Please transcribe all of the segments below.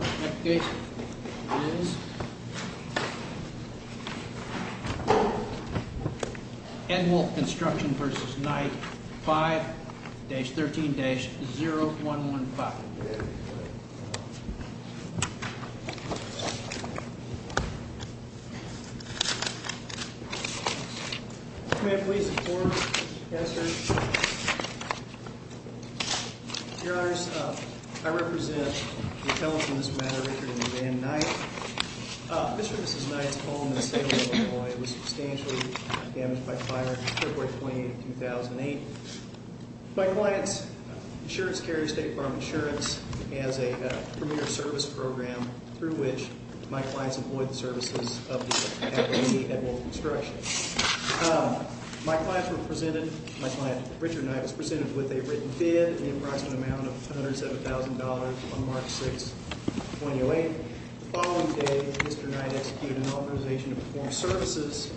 Application is Ed Wolfe Construction v. Knight, 5-13-0115 Mr. and Mrs. Knight's home in Salem, Illinois, was substantially damaged by fire on Feb. 28, 2008. My client's insurance carrier, State Farm Insurance, has a premier service program through which my clients employ the services of the company, Ed Wolfe Construction. My client, Richard Knight, was presented with a written bid in the approximate amount of $107,000 on March 6, 2008. The following day, Mr. Knight executed an authorization to perform services,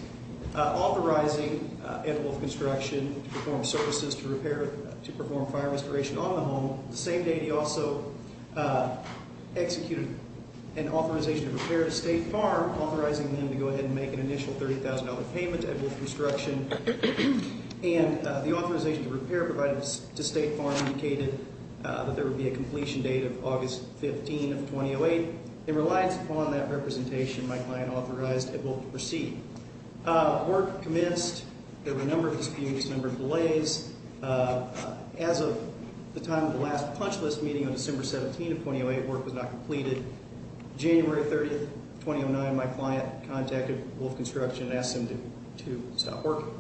authorizing Ed Wolfe Construction to perform services to repair, to perform fire restoration on the home. The same day, he also executed an authorization to repair to State Farm, authorizing them to go ahead and make an initial $30,000 payment to Ed Wolfe Construction. The authorization to repair provided to State Farm indicated that there would be a completion date of August 15, 2008. It relies upon that representation, my client authorized Ed Wolfe to proceed. Work commenced. There were a number of disputes, a number of delays. As of the time of the last punch list meeting on December 17, 2008, work was not completed. January 30, 2009, my client contacted Wolfe Construction and asked them to stop working.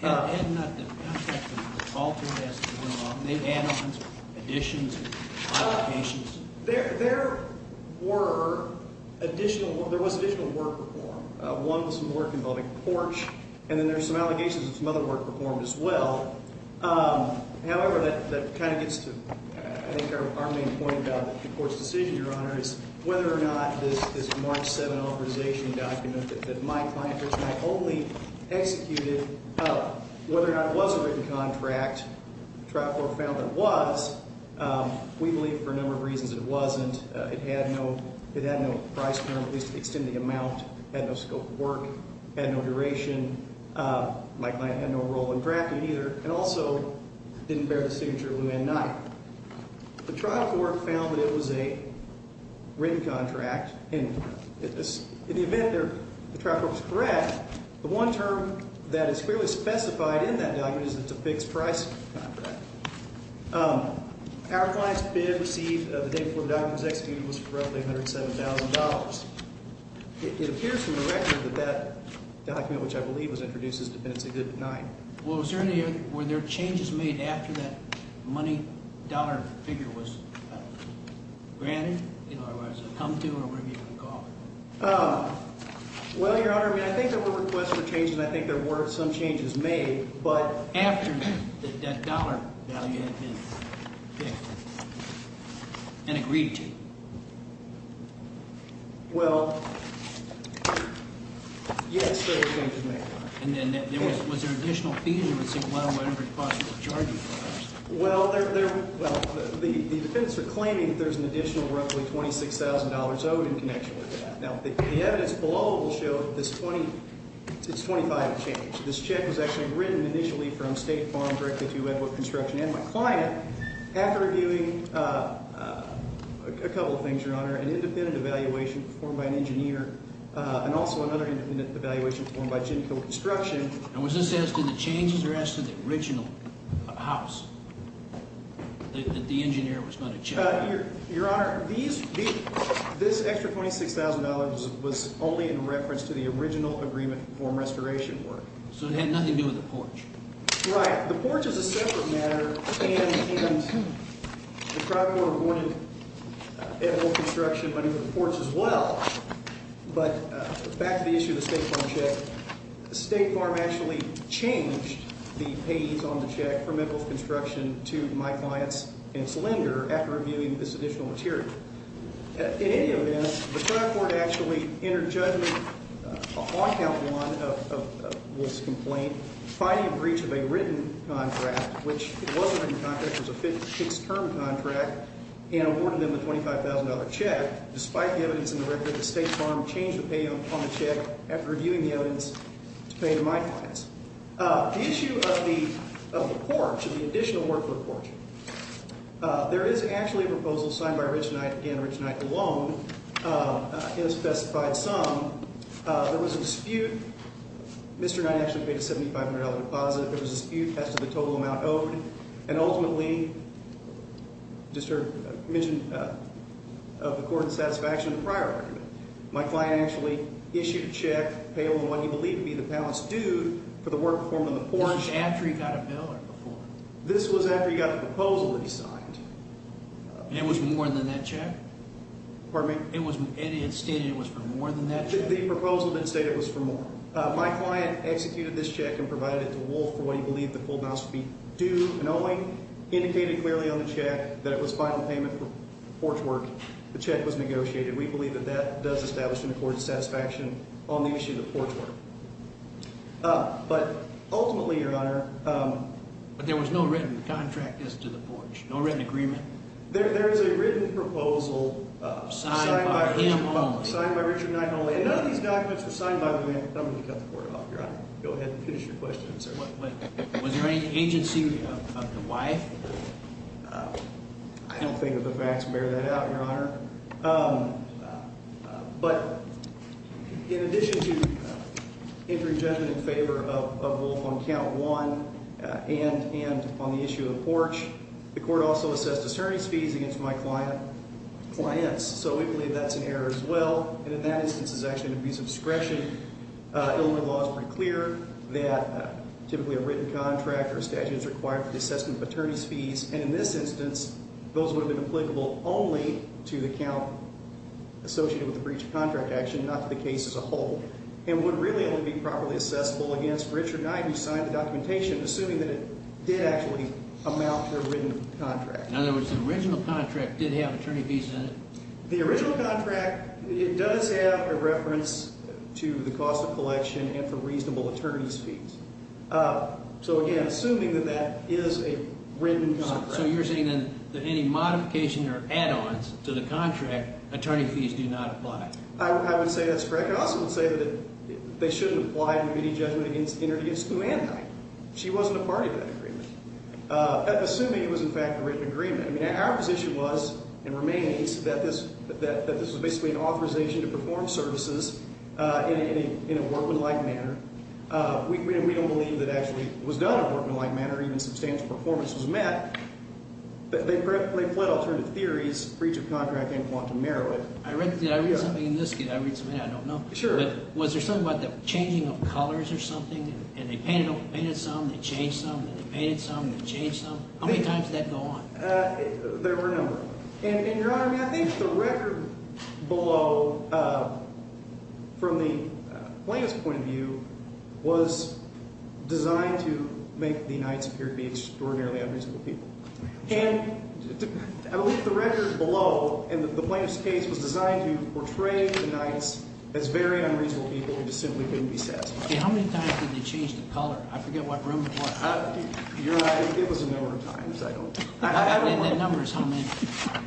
Had not the contact been altered as to the amount of add-ons, additions, and applications? There were additional – there was additional work performed. One was some work involving porch, and then there were some allegations of some other work performed as well. However, that kind of gets to, I think, our main point about the court's decision, Your Honor, is whether or not this March 7 authorization document that my client personally only executed, whether or not it was a written contract, trial court found it was. We believe for a number of reasons it wasn't. It had no price term, at least to extend the amount. It had no scope of work. It had no duration. My client had no role in drafting either, and also didn't bear the signature of Luann Knight. The trial court found that it was a written contract, and in the event the trial court was correct, the one term that is clearly specified in that document is that it's a fixed price contract. Our client's bid received the day before the document was executed was roughly $107,000. It appears from the record that that document, which I believe was introduced as Defendants Exhibit 9. Well, was there any other, were there changes made after that money dollar figure was granted, or was it come to, or whatever you want to call it? Well, Your Honor, I mean, I think there were requests for changes, and I think there were some changes made, but after that dollar value had been picked and agreed to. Well, yes, there were changes made. And then was there additional fees, or was it, well, whatever you want to call it, charges? Well, the defendants are claiming that there's an additional roughly $26,000 owed in connection with that. Now, the evidence below will show that this 20, it's 25 of change. This check was actually written initially from State Farm directly to Edward Construction and my client. After reviewing a couple of things, Your Honor, an independent evaluation performed by an engineer and also another independent evaluation performed by Jim Hill Construction. And was this as to the changes or as to the original house that the engineer was going to check? Your Honor, these, this extra $26,000 was only in reference to the original agreement for restoration work. Right. The porch is a separate matter, and the trial court awarded Edward Construction money for the porch as well. But back to the issue of the State Farm check. State Farm actually changed the payees on the check from Edwards Construction to my clients and its lender after reviewing this additional material. In any event, the trial court actually entered judgment on count one of this complaint, finding a breach of a written contract, which it was a written contract. It was a fixed-term contract, and awarded them the $25,000 check. Despite the evidence in the record, the State Farm changed the payee on the check after reviewing the evidence to pay to my clients. The issue of the porch and the additional work for the porch. There is actually a proposal signed by Rich Knight and Rich Knight alone in a specified sum. There was a dispute. Mr. Knight actually paid a $7,500 deposit. There was a dispute as to the total amount owed. And ultimately, just to mention of the court's satisfaction of the prior argument, my client actually issued a check, payable in what he believed to be the balance due for the work performed on the porch. This was after he got a bill or before? This was after he got a proposal to be signed. And it was more than that check? Pardon me? It had stated it was for more than that check? The proposal didn't state it was for more. My client executed this check and provided it to Wolf for what he believed the full balance would be due. And only indicated clearly on the check that it was final payment for porch work. The check was negotiated. We believe that that does establish an accorded satisfaction on the issue of the porch work. But ultimately, Your Honor. But there was no written contract as to the porch? No written agreement? There is a written proposal. Signed by him only? Signed by Richard Knight only. None of these documents were signed by the man. I'm going to cut the court off, Your Honor. Go ahead and finish your question, sir. Was there any agency of the wife? I don't think that the facts bear that out, Your Honor. But in addition to entering judgment in favor of Wolf on count one and on the issue of the porch, the court also assessed attorney's fees against my client's. So we believe that's an error as well. And in that instance, it's actually an abuse of discretion. Illinois law is pretty clear that typically a written contract or a statute is required for the assessment of attorney's fees. And in this instance, those would have been applicable only to the count associated with the breach of contract action, not to the case as a whole. And would really only be properly assessable against Richard Knight, who signed the documentation, assuming that it did actually amount to a written contract. In other words, the original contract did have attorney fees in it? The original contract, it does have a reference to the cost of collection and for reasonable attorney's fees. So, again, assuming that that is a written contract. So you're saying that any modification or add-ons to the contract, attorney fees do not apply? I would say that's correct. I also would say that they shouldn't apply to any judgment entered against Lou Anne Knight. She wasn't a party to that agreement. Assuming it was, in fact, a written agreement. Our position was and remains that this was basically an authorization to perform services in a workmanlike manner. We don't believe that it actually was done in a workmanlike manner. Even substantial performance was met. They fled alternative theories, breach of contract and quantum merit. Did I read something in this? Did I read something I don't know? Sure. Was there something about the changing of colors or something? And they painted some, they changed some, they painted some, they changed some? How many times did that go on? There were a number. And, Your Honor, I think the record below from the plaintiff's point of view was designed to make the Knights appear to be extraordinarily unreasonable people. And I believe the record below in the plaintiff's case was designed to portray the Knights as very unreasonable people who just simply couldn't be satisfied. How many times did they change the color? I forget what room it was. You're right. It was a number of times. I don't know. That number is how many?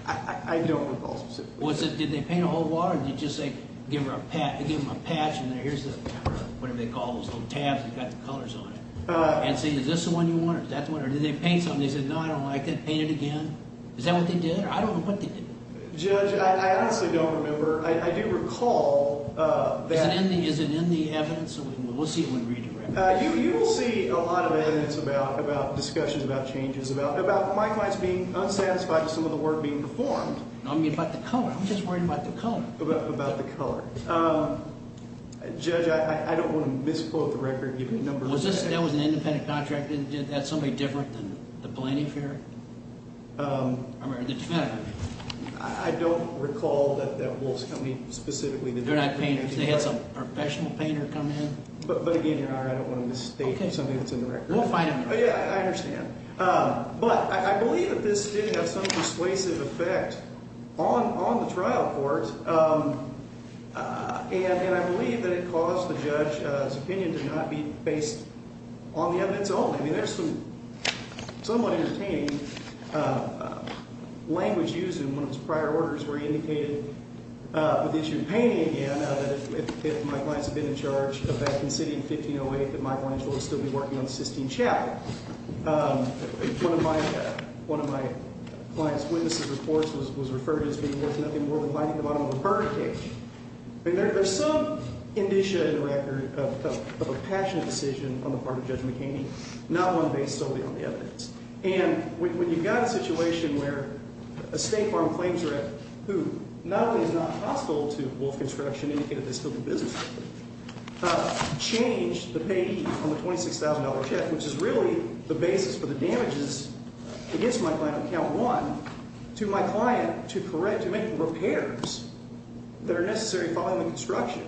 I don't recall specifically. Was it, did they paint a whole wall or did they just say, give them a patch and here's the, whatever they call those little tabs that got the colors on it? And say, is this the one you want or is that the one? Or did they paint something and they said, no, I don't like that, paint it again? Is that what they did? I don't know what they did. Judge, I honestly don't remember. I do recall that. Is it in the evidence? We'll see it when we read the record. You will see a lot of evidence about, about discussions, about changes, about Mike Mines being unsatisfied with some of the work being performed. I mean, about the color. I'm just worried about the color. About the color. Judge, I don't want to misquote the record. Give me a number. Was this, that was an independent contractor? Did they have somebody different than the plaintiff here? I mean, the defendant. I don't recall that Wolf's Company specifically. They're not painters. They had some professional painter come in. But, again, Your Honor, I don't want to misstate something that's in the record. We'll find out. Yeah, I understand. But I believe that this did have some persuasive effect on the trial court, and I believe that it caused the judge's opinion to not be based on the evidence only. I mean, there's some somewhat entertaining language used in one of his prior orders where he indicated with the issue of painting, again, that if Mike Mines had been in charge back in the city in 1508, that Mike Mines would still be working on Sistine Chapel. One of my client's witnesses' reports was referred to as being worth nothing more than hiding the bottom of a birdcage. I mean, there's some indicia in the record of a passionate decision on the part of Judge McHaney, not one based solely on the evidence. And when you've got a situation where a state farm claims rep who not only is not hostile to Wolf Construction, indicated they still do business with them, changed the payee on the $26,000 check, which is really the basis for the damages against my client on count one, to my client to make repairs that are necessary following the construction,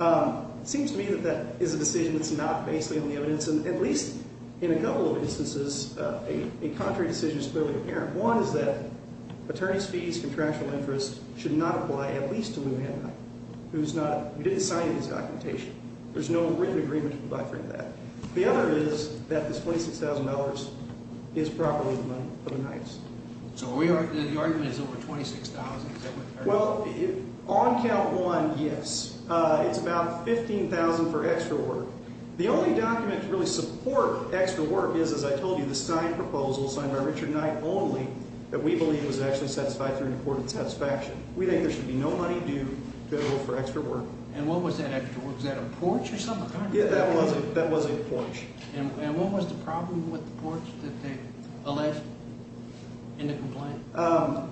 it seems to me that that is a decision that's not based solely on the evidence. And at least in a couple of instances, a contrary decision is clearly apparent. One is that attorneys' fees, contractual interest should not apply at least to Lou Hanna, who's not – who didn't sign any of his documentation. There's no written agreement to provide for any of that. The other is that this $26,000 is properly the money for the Knights. So the argument is over $26,000? Well, on count one, yes. It's about $15,000 for extra work. The only document to really support extra work is, as I told you, the signed proposal signed by Richard Knight only that we believe was actually satisfied through an important satisfaction. We think there should be no money due to the rule for extra work. And what was that extra work? Was that a porch or something? Yeah, that was a porch. And what was the problem with the porch that they alleged in the complaint?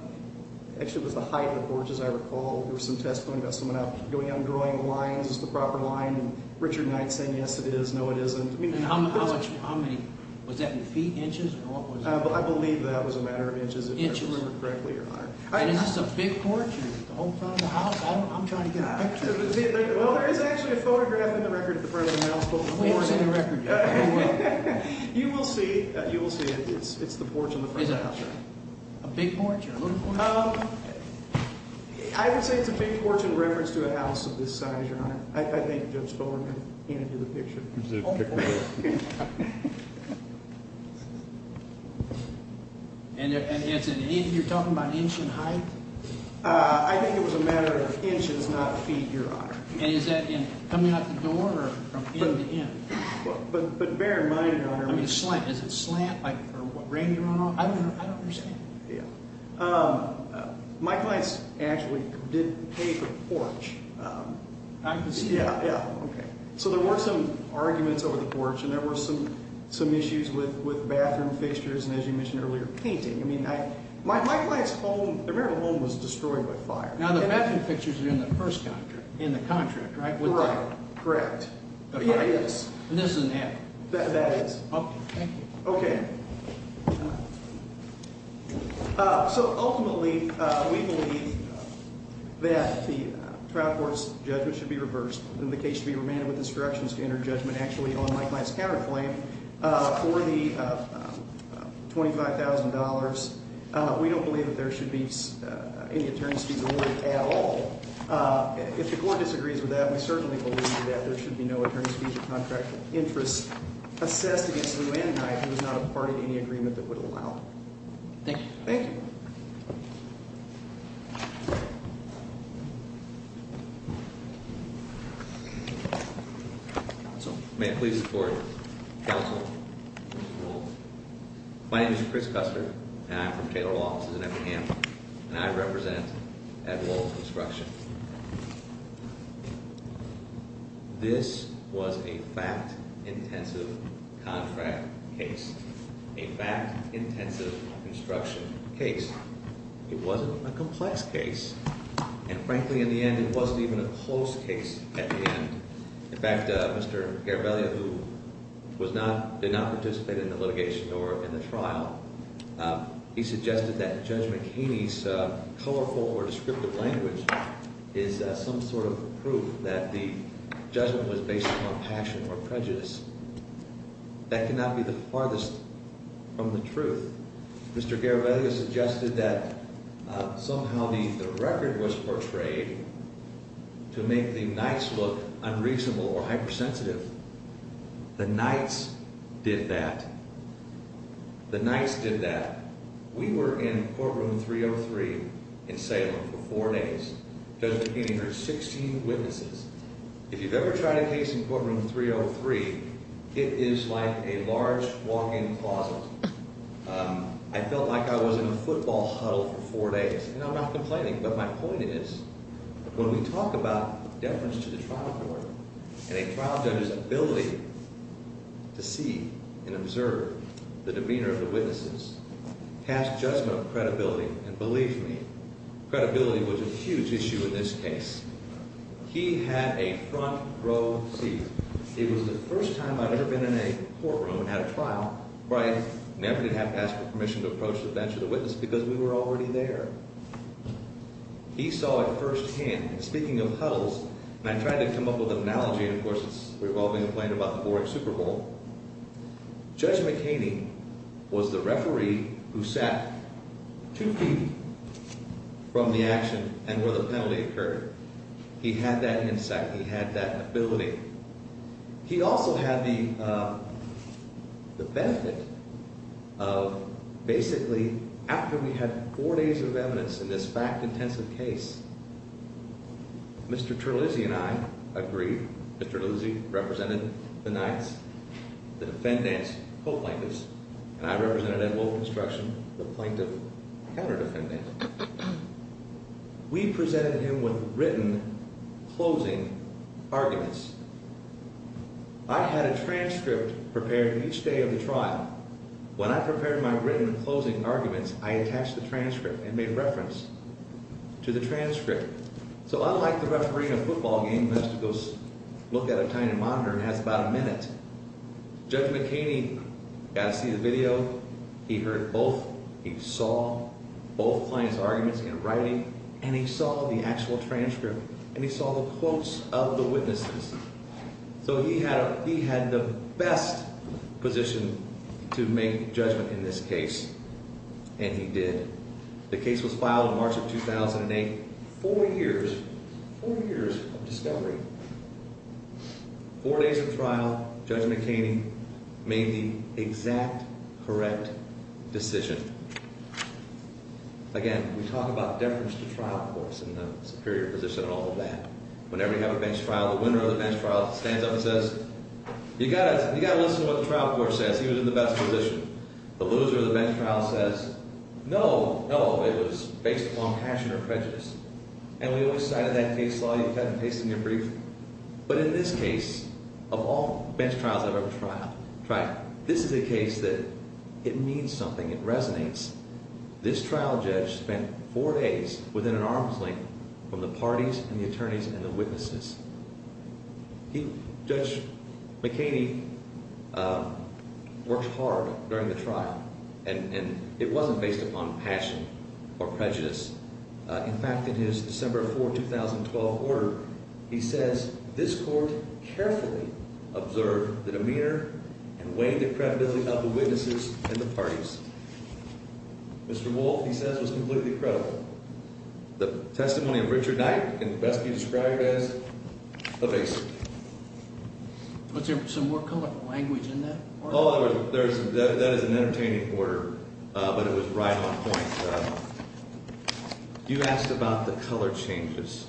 Actually, it was the height of the porch, as I recall. There was some testimony about someone going out and drawing lines. Is this the proper line? And Richard Knight saying, yes, it is. No, it isn't. And how much – how many – was that in feet, inches, or what was it? I believe that was a matter of inches, if I remember correctly, Your Honor. And is this a big porch? The whole front of the house? I'm trying to get a picture. Well, there is actually a photograph in the record at the front of the house. What was in the record? You will see. You will see. It's the porch on the front of the house. Is it a big porch or a little porch? I would say it's a big porch in reference to a house of this size, Your Honor. I think Judge Fuller can hand you the picture. And you're talking about inch in height? I think it was a matter of inches, not feet, Your Honor. And is that coming out the door or from end to end? But bear in mind, Your Honor. I mean, is it slant or what? I don't understand. Yeah. My clients actually did paint the porch. I can see that. Yeah, yeah. So there were some arguments over the porch and there were some issues with bathroom fixtures and, as you mentioned earlier, painting. I mean, my client's home, their marital home, was destroyed by fire. Now, the bathroom fixtures are in the first contract, in the contract, right? Correct. Yeah, it is. And this isn't that? That is. Okay, thank you. Okay. So ultimately, we believe that the trial court's judgment should be reversed and the case should be remanded with instructions to enter judgment actually on Mike Knight's counterclaim for the $25,000. We don't believe that there should be any attorney's fees awarded at all. If the court disagrees with that, we certainly believe that there should be no attorney's fees or contract interest assessed against Lou Anne Knight, who is not a party to any agreement that would allow it. Thank you. Thank you. Counsel? May I please report? Counsel? My name is Chris Custer and I'm from Taylor Law Offices in Eppingham and I represent Ed Wolf Construction. This was a fact-intensive contract case. A fact-intensive construction case. It wasn't a complex case. And frankly, in the end, it wasn't even a close case at the end. In fact, Mr. Garavaglia, who did not participate in the litigation or in the trial, he suggested that Judge McHaney's colorful or descriptive language is some sort of proof that the judgment was based upon passion or prejudice. That cannot be the farthest from the truth. Mr. Garavaglia suggested that somehow the record was portrayed to make the Knights look unreasonable or hypersensitive. The Knights did that. The Knights did that. We were in courtroom 303 in Salem for four days. Judge McHaney heard 16 witnesses. If you've ever tried a case in courtroom 303, it is like a large walk-in closet. I felt like I was in a football huddle for four days. And I'm not complaining, but my point is, when we talk about deference to the trial court and a trial judge's ability to see and observe the demeanor of the witnesses, past judgment of credibility, and believe me, credibility was a huge issue in this case, he had a front row seat. It was the first time I'd ever been in a courtroom at a trial where I never did have to ask for permission to approach the bench or the witness because we were already there. He saw it firsthand. And speaking of huddles, and I tried to come up with an analogy, and of course it's revolving and playing about the Boric Super Bowl, Judge McHaney was the referee who sat two feet from the action and where the penalty occurred. He had that insight. He had that ability. He also had the benefit of basically after we had four days of evidence in this fact-intensive case, Mr. Terlizzi and I agreed, Mr. Terlizzi represented the Knights, the defendants, co-plaintiffs, and I represented Ed Wolfe Construction, the plaintiff, counter-defendant. We presented him with written closing arguments. I had a transcript prepared each day of the trial. When I prepared my written closing arguments, I attached the transcript and made reference to the transcript. So unlike the referee in a football game who has to go look at a tiny monitor and has about a minute, Judge McHaney got to see the video. He heard both. He saw both plaintiffs' arguments in writing, and he saw the actual transcript, and he saw the quotes of the witnesses. So he had the best position to make judgment in this case, and he did. The case was filed in March of 2008. Four years, four years of discovery. Four days of trial, Judge McHaney made the exact correct decision. Again, we talk about deference to trial courts and the superior position and all of that. Whenever you have a bench trial, the winner of the bench trial stands up and says, You've got to listen to what the trial court says. He was in the best position. The loser of the bench trial says, No, no, it was based upon passion or prejudice. And we always cited that case law. You've had it pasted in your brief. But in this case, of all bench trials I've ever tried, this is a case that it means something. It resonates. This trial judge spent four days within an arm's length from the parties and the attorneys and the witnesses. Judge McHaney worked hard during the trial, and it wasn't based upon passion or prejudice. In fact, in his December 4, 2012 order, he says, This court carefully observed the demeanor and weighed the credibility of the witnesses and the parties. Mr. Wolf, he says, was completely credible. The testimony of Richard Knight can best be described as evasive. Was there some more colloquial language in that? That is an entertaining order, but it was right on point. You asked about the color changes.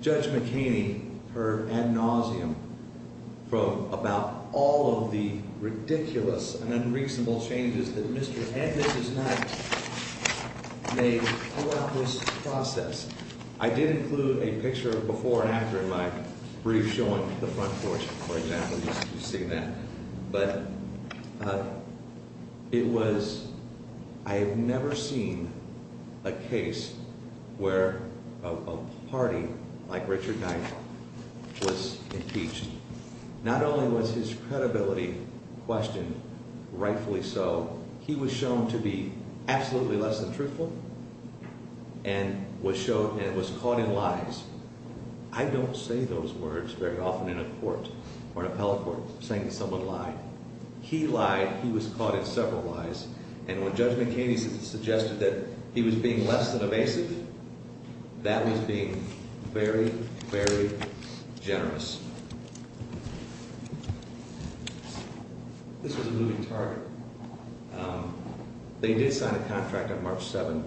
Judge McHaney, her ad nauseum from about all of the ridiculous and unreasonable changes that Mr. and Mrs. Knight made throughout this process. I did include a picture of before and after in my brief showing the front porch, for example. I have never seen a case where a party like Richard Knight was impeached. Not only was his credibility questioned, rightfully so, he was shown to be absolutely less than truthful and was caught in lies. I don't say those words very often in a court or an appellate court, saying someone lied. He lied. He was caught in several lies. And when Judge McHaney suggested that he was being less than evasive, that was being very, very generous. This was a moving target. They did sign a contract on March 7,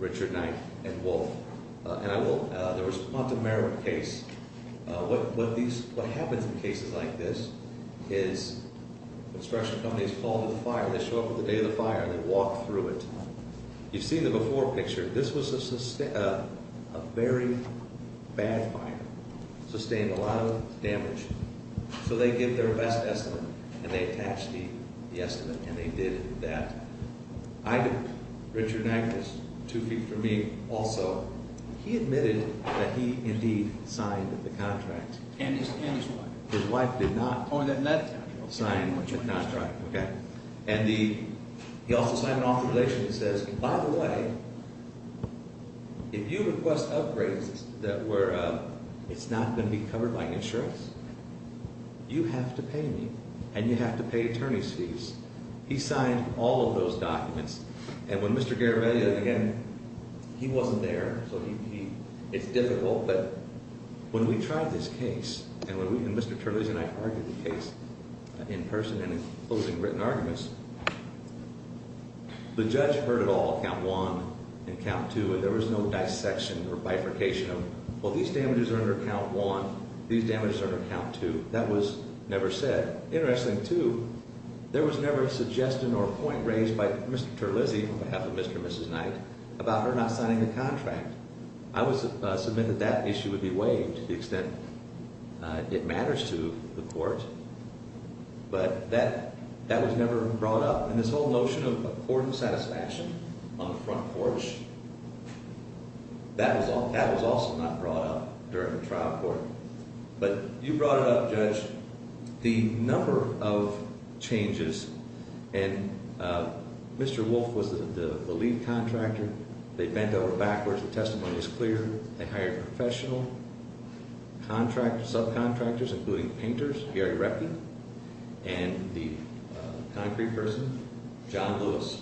Richard Knight and Wolf. There was a quantum error case. What happens in cases like this is construction companies call to the fire. They show up on the day of the fire, and they walk through it. You've seen the before picture. This was a very bad fire, sustained a lot of damage. So they give their best estimate, and they attached the estimate, and they did that. Richard Knight was two feet from me also. He admitted that he indeed signed the contract. And his wife. His wife did not sign the contract. And he also signed an authorization that says, by the way, if you request upgrades that were, it's not going to be covered by insurance, you have to pay me. And you have to pay attorney's fees. He signed all of those documents. And when Mr. Garavelli, again, he wasn't there. So he, it's difficult. But when we tried this case, and Mr. Turley and I argued the case in person and in closing written arguments, the judge heard it all, count one and count two. And there was no dissection or bifurcation of, well, these damages are under count one, these damages are under count two. That was never said. Interesting, too, there was never a suggestion or a point raised by Mr. Turley, on behalf of Mr. and Mrs. Knight, about her not signing the contract. I would submit that that issue would be waived to the extent it matters to the court. But that was never brought up. And this whole notion of court satisfaction on the front porch, that was also not brought up during the trial court. But you brought it up, Judge. The number of changes, and Mr. Wolf was the lead contractor. They bent over backwards. The testimony is clear. They hired professional contractors, subcontractors, including painters, Gary Reckin, and the concrete person, John Lewis.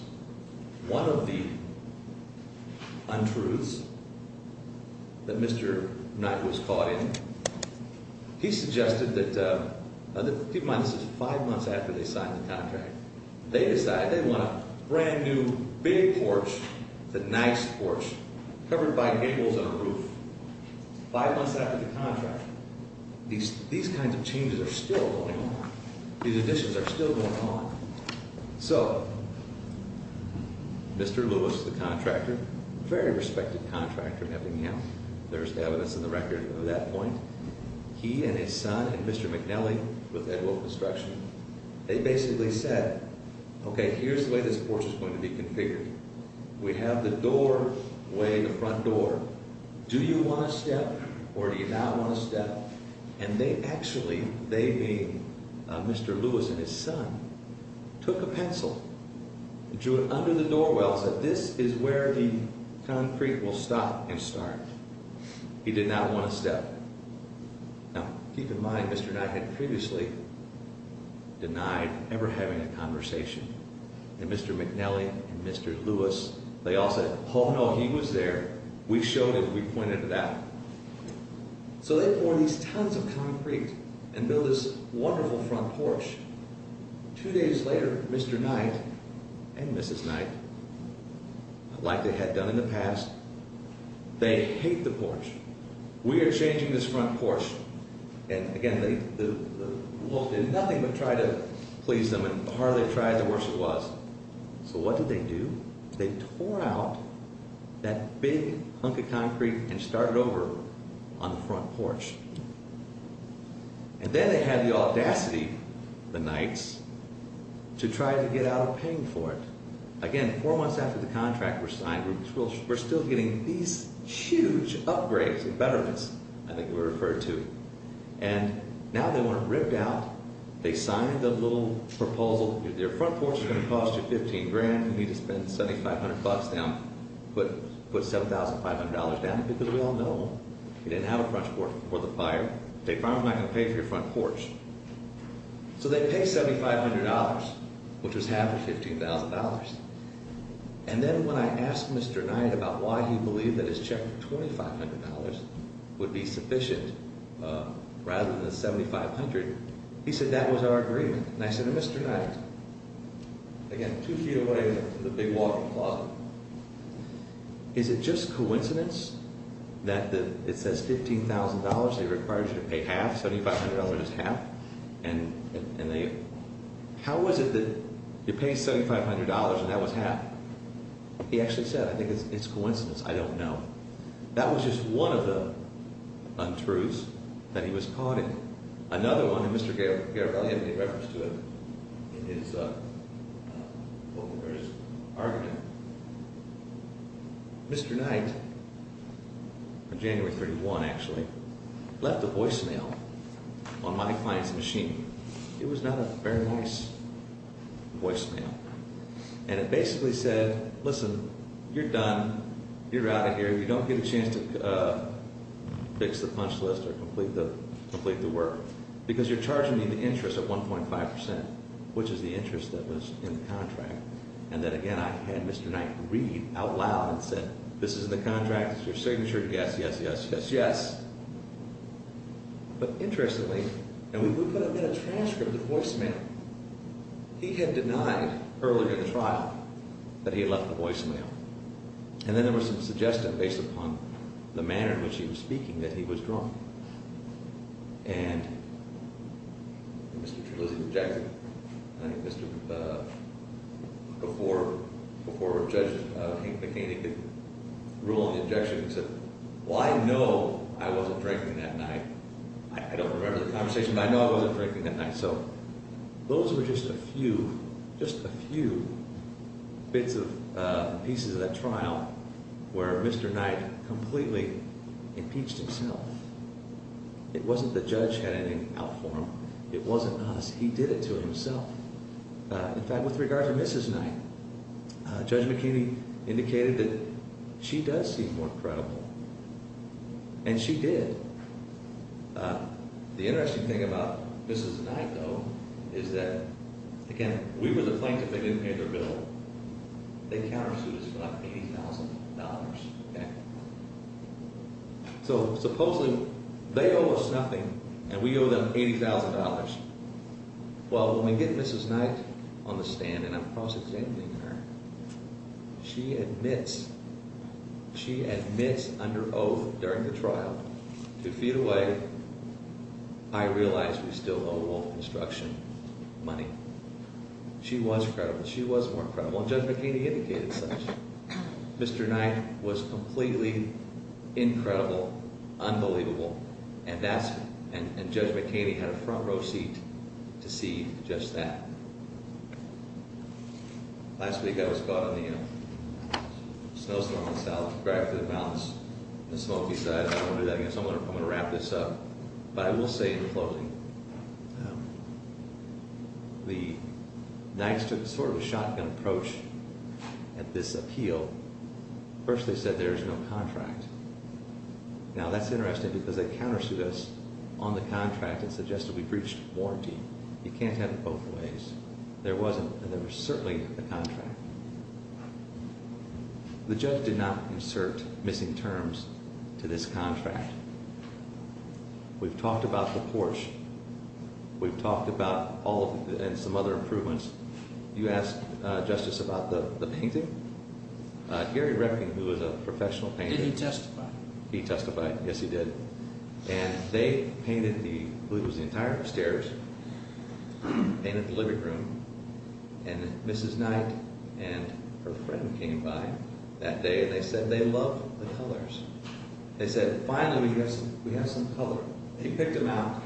One of the untruths that Mr. Knight was caught in, he suggested that, keep in mind this is five months after they signed the contract. They decide they want a brand new big porch, the nice porch, covered by gables and a roof. Five months after the contract, these kinds of changes are still going on. These additions are still going on. So, Mr. Lewis, the contractor, very respected contractor in Eppingham. There's evidence in the record of that point. He and his son and Mr. McNelly, with Ed Wolf Instruction, they basically said, okay, here's the way this porch is going to be configured. We have the doorway, the front door. Do you want to step or do you not want to step? And they actually, they being Mr. Lewis and his son, took a pencil and drew it under the door well and said, this is where the concrete will stop and start. He did not want to step. Now, keep in mind, Mr. Knight had previously denied ever having a conversation. And Mr. McNelly and Mr. Lewis, they all said, oh, no, he was there. We showed him. We pointed it out. So, they poured these tons of concrete and built this wonderful front porch. Two days later, Mr. Knight and Mrs. Knight, like they had done in the past, they hate the porch. We are changing this front porch. And, again, the Wolf did nothing but try to please them and the harder they tried, the worse it was. So, what did they do? They tore out that big hunk of concrete and started over on the front porch. And then they had the audacity, the Knights, to try to get out of paying for it. Again, four months after the contract was signed, we're still getting these huge upgrades and betterments, I think we're referred to. And now they want it ripped out. They signed the little proposal. Their front porch is going to cost you $15,000. You need to spend $7,500 down, put $7,500 down, because we all know you didn't have a front porch before the fire. State Farm is not going to pay for your front porch. So, they paid $7,500, which was half of $15,000. And then when I asked Mr. Knight about why he believed that his check for $2,500 would be sufficient rather than the $7,500, he said that was our agreement. And I said, Mr. Knight, again, two feet away from the big walk-in closet, is it just coincidence that it says $15,000? They required you to pay half, $7,500 is half. And how was it that you're paying $7,500 and that was half? He actually said, I think it's coincidence, I don't know. That was just one of the untruths that he was caught in. Another one, and Mr. Garibaldi had me referenced to it in his argument. Mr. Knight, on January 31, actually, left a voicemail on my client's machine. It was not a very nice voicemail. And it basically said, listen, you're done, you're out of here, you don't get a chance to fix the punch list or complete the work. Because you're charging me the interest at 1.5%, which is the interest that was in the contract. And then again, I had Mr. Knight read out loud and said, this is in the contract, this is your signature, yes, yes, yes, yes, yes. But interestingly, and we put up in a transcript the voicemail. He had denied earlier in the trial that he had left the voicemail. And then there was some suggestion based upon the manner in which he was speaking that he was drunk. And Mr. Trulizzi rejected it. I think before Judge McHaney could rule on the objection, he said, well, I know I wasn't drinking that night. I don't remember the conversation, but I know I wasn't drinking that night. So those were just a few, just a few bits of pieces of that trial where Mr. Knight completely impeached himself. It wasn't the judge had anything out for him. It wasn't us. He did it to himself. In fact, with regard to Mrs. Knight, Judge McHaney indicated that she does seem more credible. And she did. The interesting thing about Mrs. Knight, though, is that, again, we were the plaintiff. They didn't pay their bill. They countersued us for like $80,000. So supposedly they owe us nothing and we owe them $80,000. Well, when we get Mrs. Knight on the stand, and I'm cross-examining her, she admits, she admits under oath during the trial, two feet away, I realize we still owe Wolf Construction money. She was credible. She was more credible. And Judge McHaney indicated such. Mr. Knight was completely incredible, unbelievable, and that's – and Judge McHaney had a front-row seat to see just that. Last week I was caught on the, you know, snowstorm in the South, dragged through the mountains on the smoky side. I don't want to do that again. So I'm going to wrap this up. But I will say in closing, the Knights took sort of a shotgun approach at this appeal. First they said there is no contract. Now, that's interesting because they countersued us on the contract and suggested we breached warranty. You can't have it both ways. There wasn't, and there was certainly a contract. The judge did not insert missing terms to this contract. We've talked about the Porsche. We've talked about all of the – and some other improvements. You asked, Justice, about the painting. Gary Redding, who is a professional painter – Did he testify? He testified. Yes, he did. And they painted the – I believe it was the entire upstairs, painted the living room. And Mrs. Knight and her friend came by that day and they said they love the colors. They said, finally we have some color. They picked them out.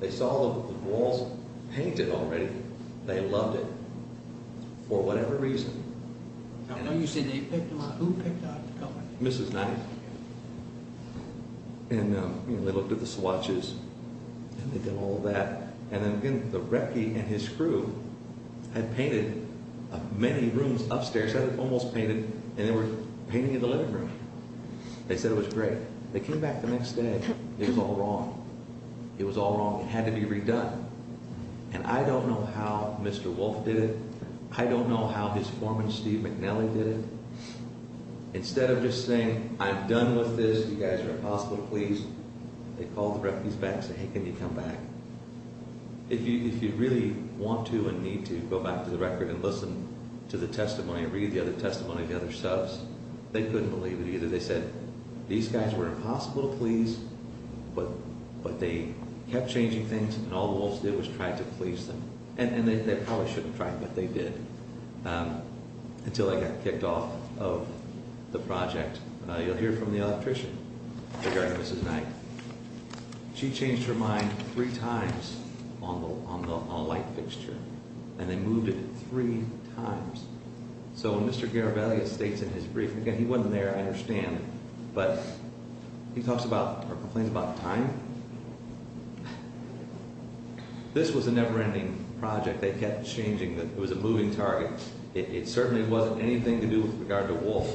They saw the walls painted already. They loved it for whatever reason. Now, you say they picked them out. Who picked out the color? Mrs. Knight. And they looked at the swatches and they did all that. And then again, the recce and his crew had painted many rooms upstairs, almost painted, and they were painting the living room. They said it was great. They came back the next day. It was all wrong. It was all wrong. It had to be redone. And I don't know how Mr. Wolf did it. I don't know how his foreman, Steve McNally, did it. Instead of just saying, I'm done with this, you guys are impossible to please, they called the recce's back and said, hey, can you come back? If you really want to and need to go back to the record and listen to the testimony and read the other testimony of the other subs, they couldn't believe it either. They said, these guys were impossible to please, but they kept changing things, and all the Wolves did was try to please them. And they probably shouldn't have tried, but they did. Until I got kicked off of the project. You'll hear from the electrician regarding Mrs. Knight. She changed her mind three times on the light fixture, and they moved it three times. So when Mr. Garavaglia states in his brief, again, he wasn't there, I understand, but he talks about, or complains about time. This was a never-ending project. They kept changing, it was a moving target. It certainly wasn't anything to do with regard to Wolf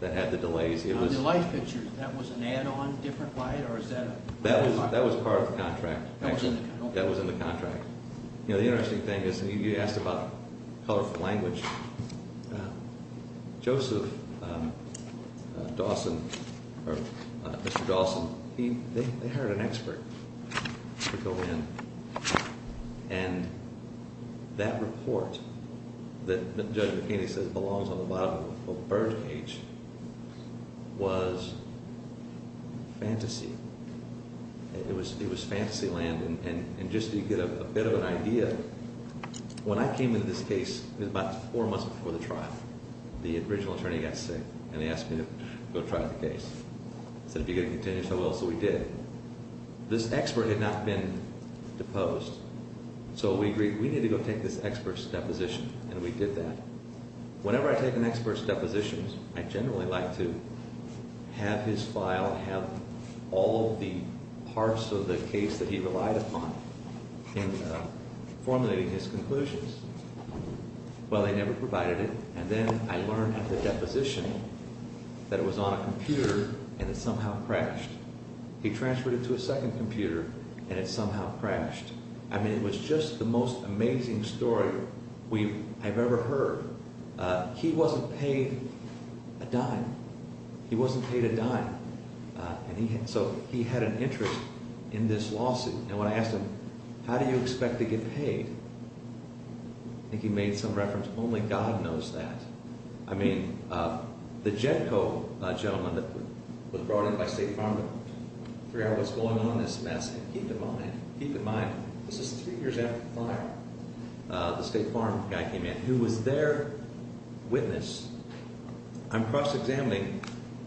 that had the delays. On the light fixture, that was an add-on, different light, or is that a... That was part of the contract. That was in the contract. The interesting thing is, you asked about colorful language. Joseph Dawson, or Mr. Dawson, they hired an expert to go in, and that report that Judge McKinney says belongs on the bottom of a birdcage, was fantasy. It was fantasy land, and just so you get a bit of an idea, when I came into this case, it was about four months before the trial, the original attorney got sick, and he asked me to go try the case. He said, if you're going to continue, so I will, so we did. This expert had not been deposed, so we agreed, we need to go take this expert's deposition, and we did that. Whenever I take an expert's deposition, I generally like to have his file, I have all of the parts of the case that he relied upon in formulating his conclusions. Well, they never provided it, and then I learned at the deposition that it was on a computer, and it somehow crashed. He transferred it to a second computer, and it somehow crashed. I mean, it was just the most amazing story I've ever heard. He wasn't paid a dime. He wasn't paid a dime. So, he had an interest in this lawsuit, and when I asked him, how do you expect to get paid? I think he made some reference, only God knows that. I mean, the JEDCO gentleman that was brought in by State Farm to figure out what's going on in this mess, and keep in mind, keep in mind, this is three years after the fire. The State Farm guy came in, who was their witness. I'm cross-examining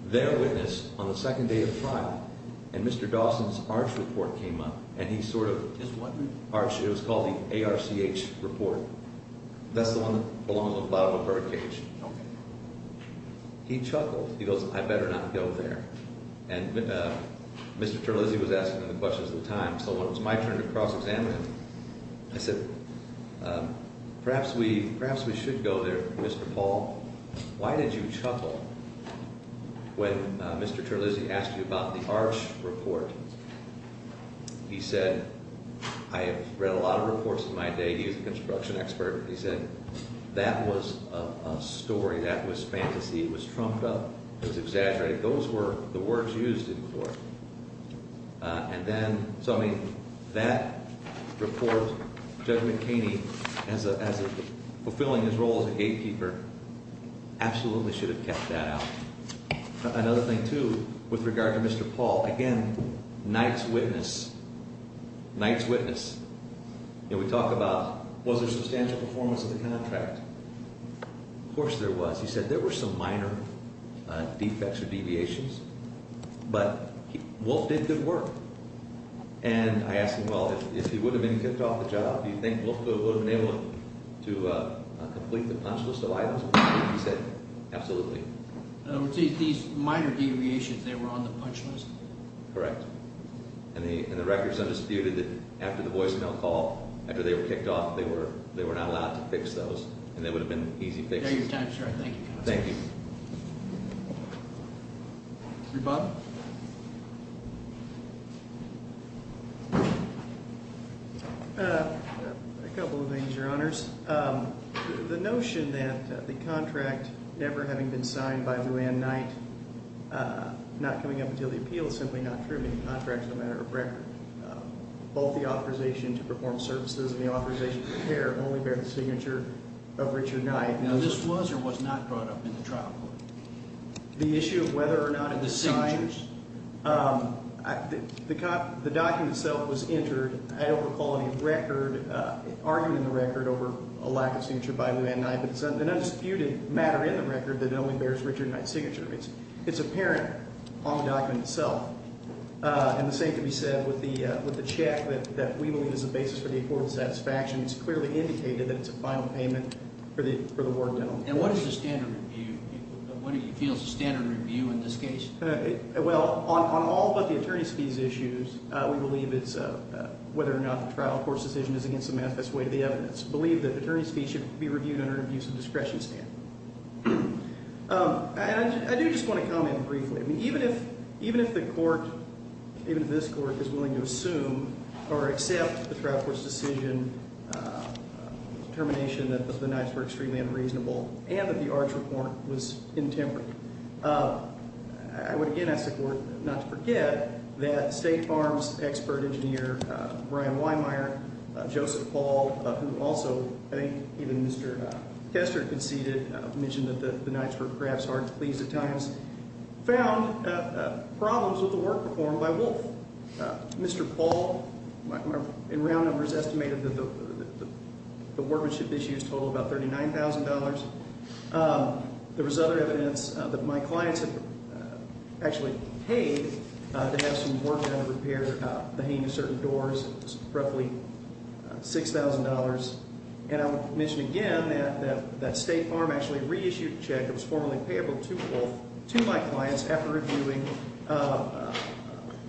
their witness on the second day of trial, and Mr. Dawson's ARCH report came up, and he sort of, it was called the ARCH report. That's the one that belongs on the bottom of a birdcage. He chuckled. He goes, I better not go there. And Mr. Terlizzi was asking me the questions at the time, so it was my turn to cross-examine him. I said, perhaps we should go there, Mr. Paul. Why did you chuckle when Mr. Terlizzi asked you about the ARCH report? He said, I have read a lot of reports in my day. He was a construction expert. He said, that was a story. That was fantasy. It was trumped up. It was exaggerated. Those were the words used in court. And then, so I mean, that report, Judge McKinney, as a, fulfilling his role as a gatekeeper, absolutely should have kept that out. Another thing, too, with regard to Mr. Paul, again, Knight's witness, Knight's witness. You know, we talk about, was there substantial performance of the contract? Of course there was. He said, there were some minor defects or deviations, but Wolf did good work. And I asked him, well, if he would have been kicked off the job, do you think Wolf would have been able to complete the punch list of items? He said, absolutely. These minor deviations, they were on the punch list? Correct. And the record is undisputed that after the voicemail call, after they were kicked off, they were not allowed to fix those. And they would have been easy fixes. Thank you. Thank you. Mr. Bob? Mr. Bob? A couple of things, Your Honors. The notion that the contract, never having been signed by Lou Anne Knight, not coming up until the appeal is simply not true. The contract is a matter of record. Both the authorization to perform services and the authorization to repair only bear the signature of Richard Knight. Now, this was or was not brought up in the trial court? The issue of whether or not it was signed? The signatures? The document itself was entered, I don't recall the record, argued in the record over a lack of signature by Lou Anne Knight, but it's an undisputed matter in the record that it only bears Richard Knight's signature. It's apparent on the document itself. And the same can be said with the check that we believe is the basis for the affordable satisfaction. It's clearly indicated that it's a final payment for the ward gentleman. And what is the standard review? What do you feel is the standard review in this case? Well, on all but the attorney's fees issues, we believe it's whether or not the trial court's decision is against the manifest way to the evidence. We believe that attorney's fees should be reviewed under an abuse of discretion standard. I do just want to comment briefly. Even if the court, even if this court, is willing to assume or accept the trial court's decision, determination that the Knights were extremely unreasonable, and that the Arch report was intemperate, I would again ask the court not to forget that State Farms expert engineer Brian Weinmeier, Joseph Paul, who also, I think even Mr. Kester conceded, mentioned that the Knights were perhaps hard to please at times, found problems with the work performed by Wolf. Mr. Paul, in round numbers, estimated that the workmanship issue totaled about $39,000. There was other evidence that my clients had actually paid to have some work done to repair the hanging of certain doors. It was roughly $6,000. And I would mention again that State Farm actually reissued a check that was formally payable to Wolf, to my clients, after reviewing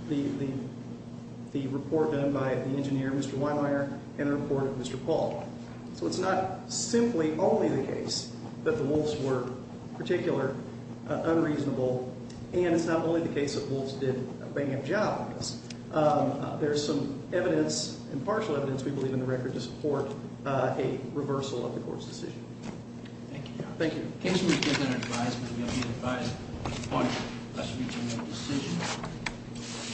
the report done by the engineer, Mr. Weinmeier, and the report of Mr. Paul. So it's not simply only the case that the Wolfs were particular unreasonable, and it's not only the case that Wolfs did a bad job at this. There's some evidence, and partial evidence, we believe in the record, to support a reversal of the court's decision. Thank you. Thank you. The case will be given our advice, but we'll be advised upon us reaching a decision.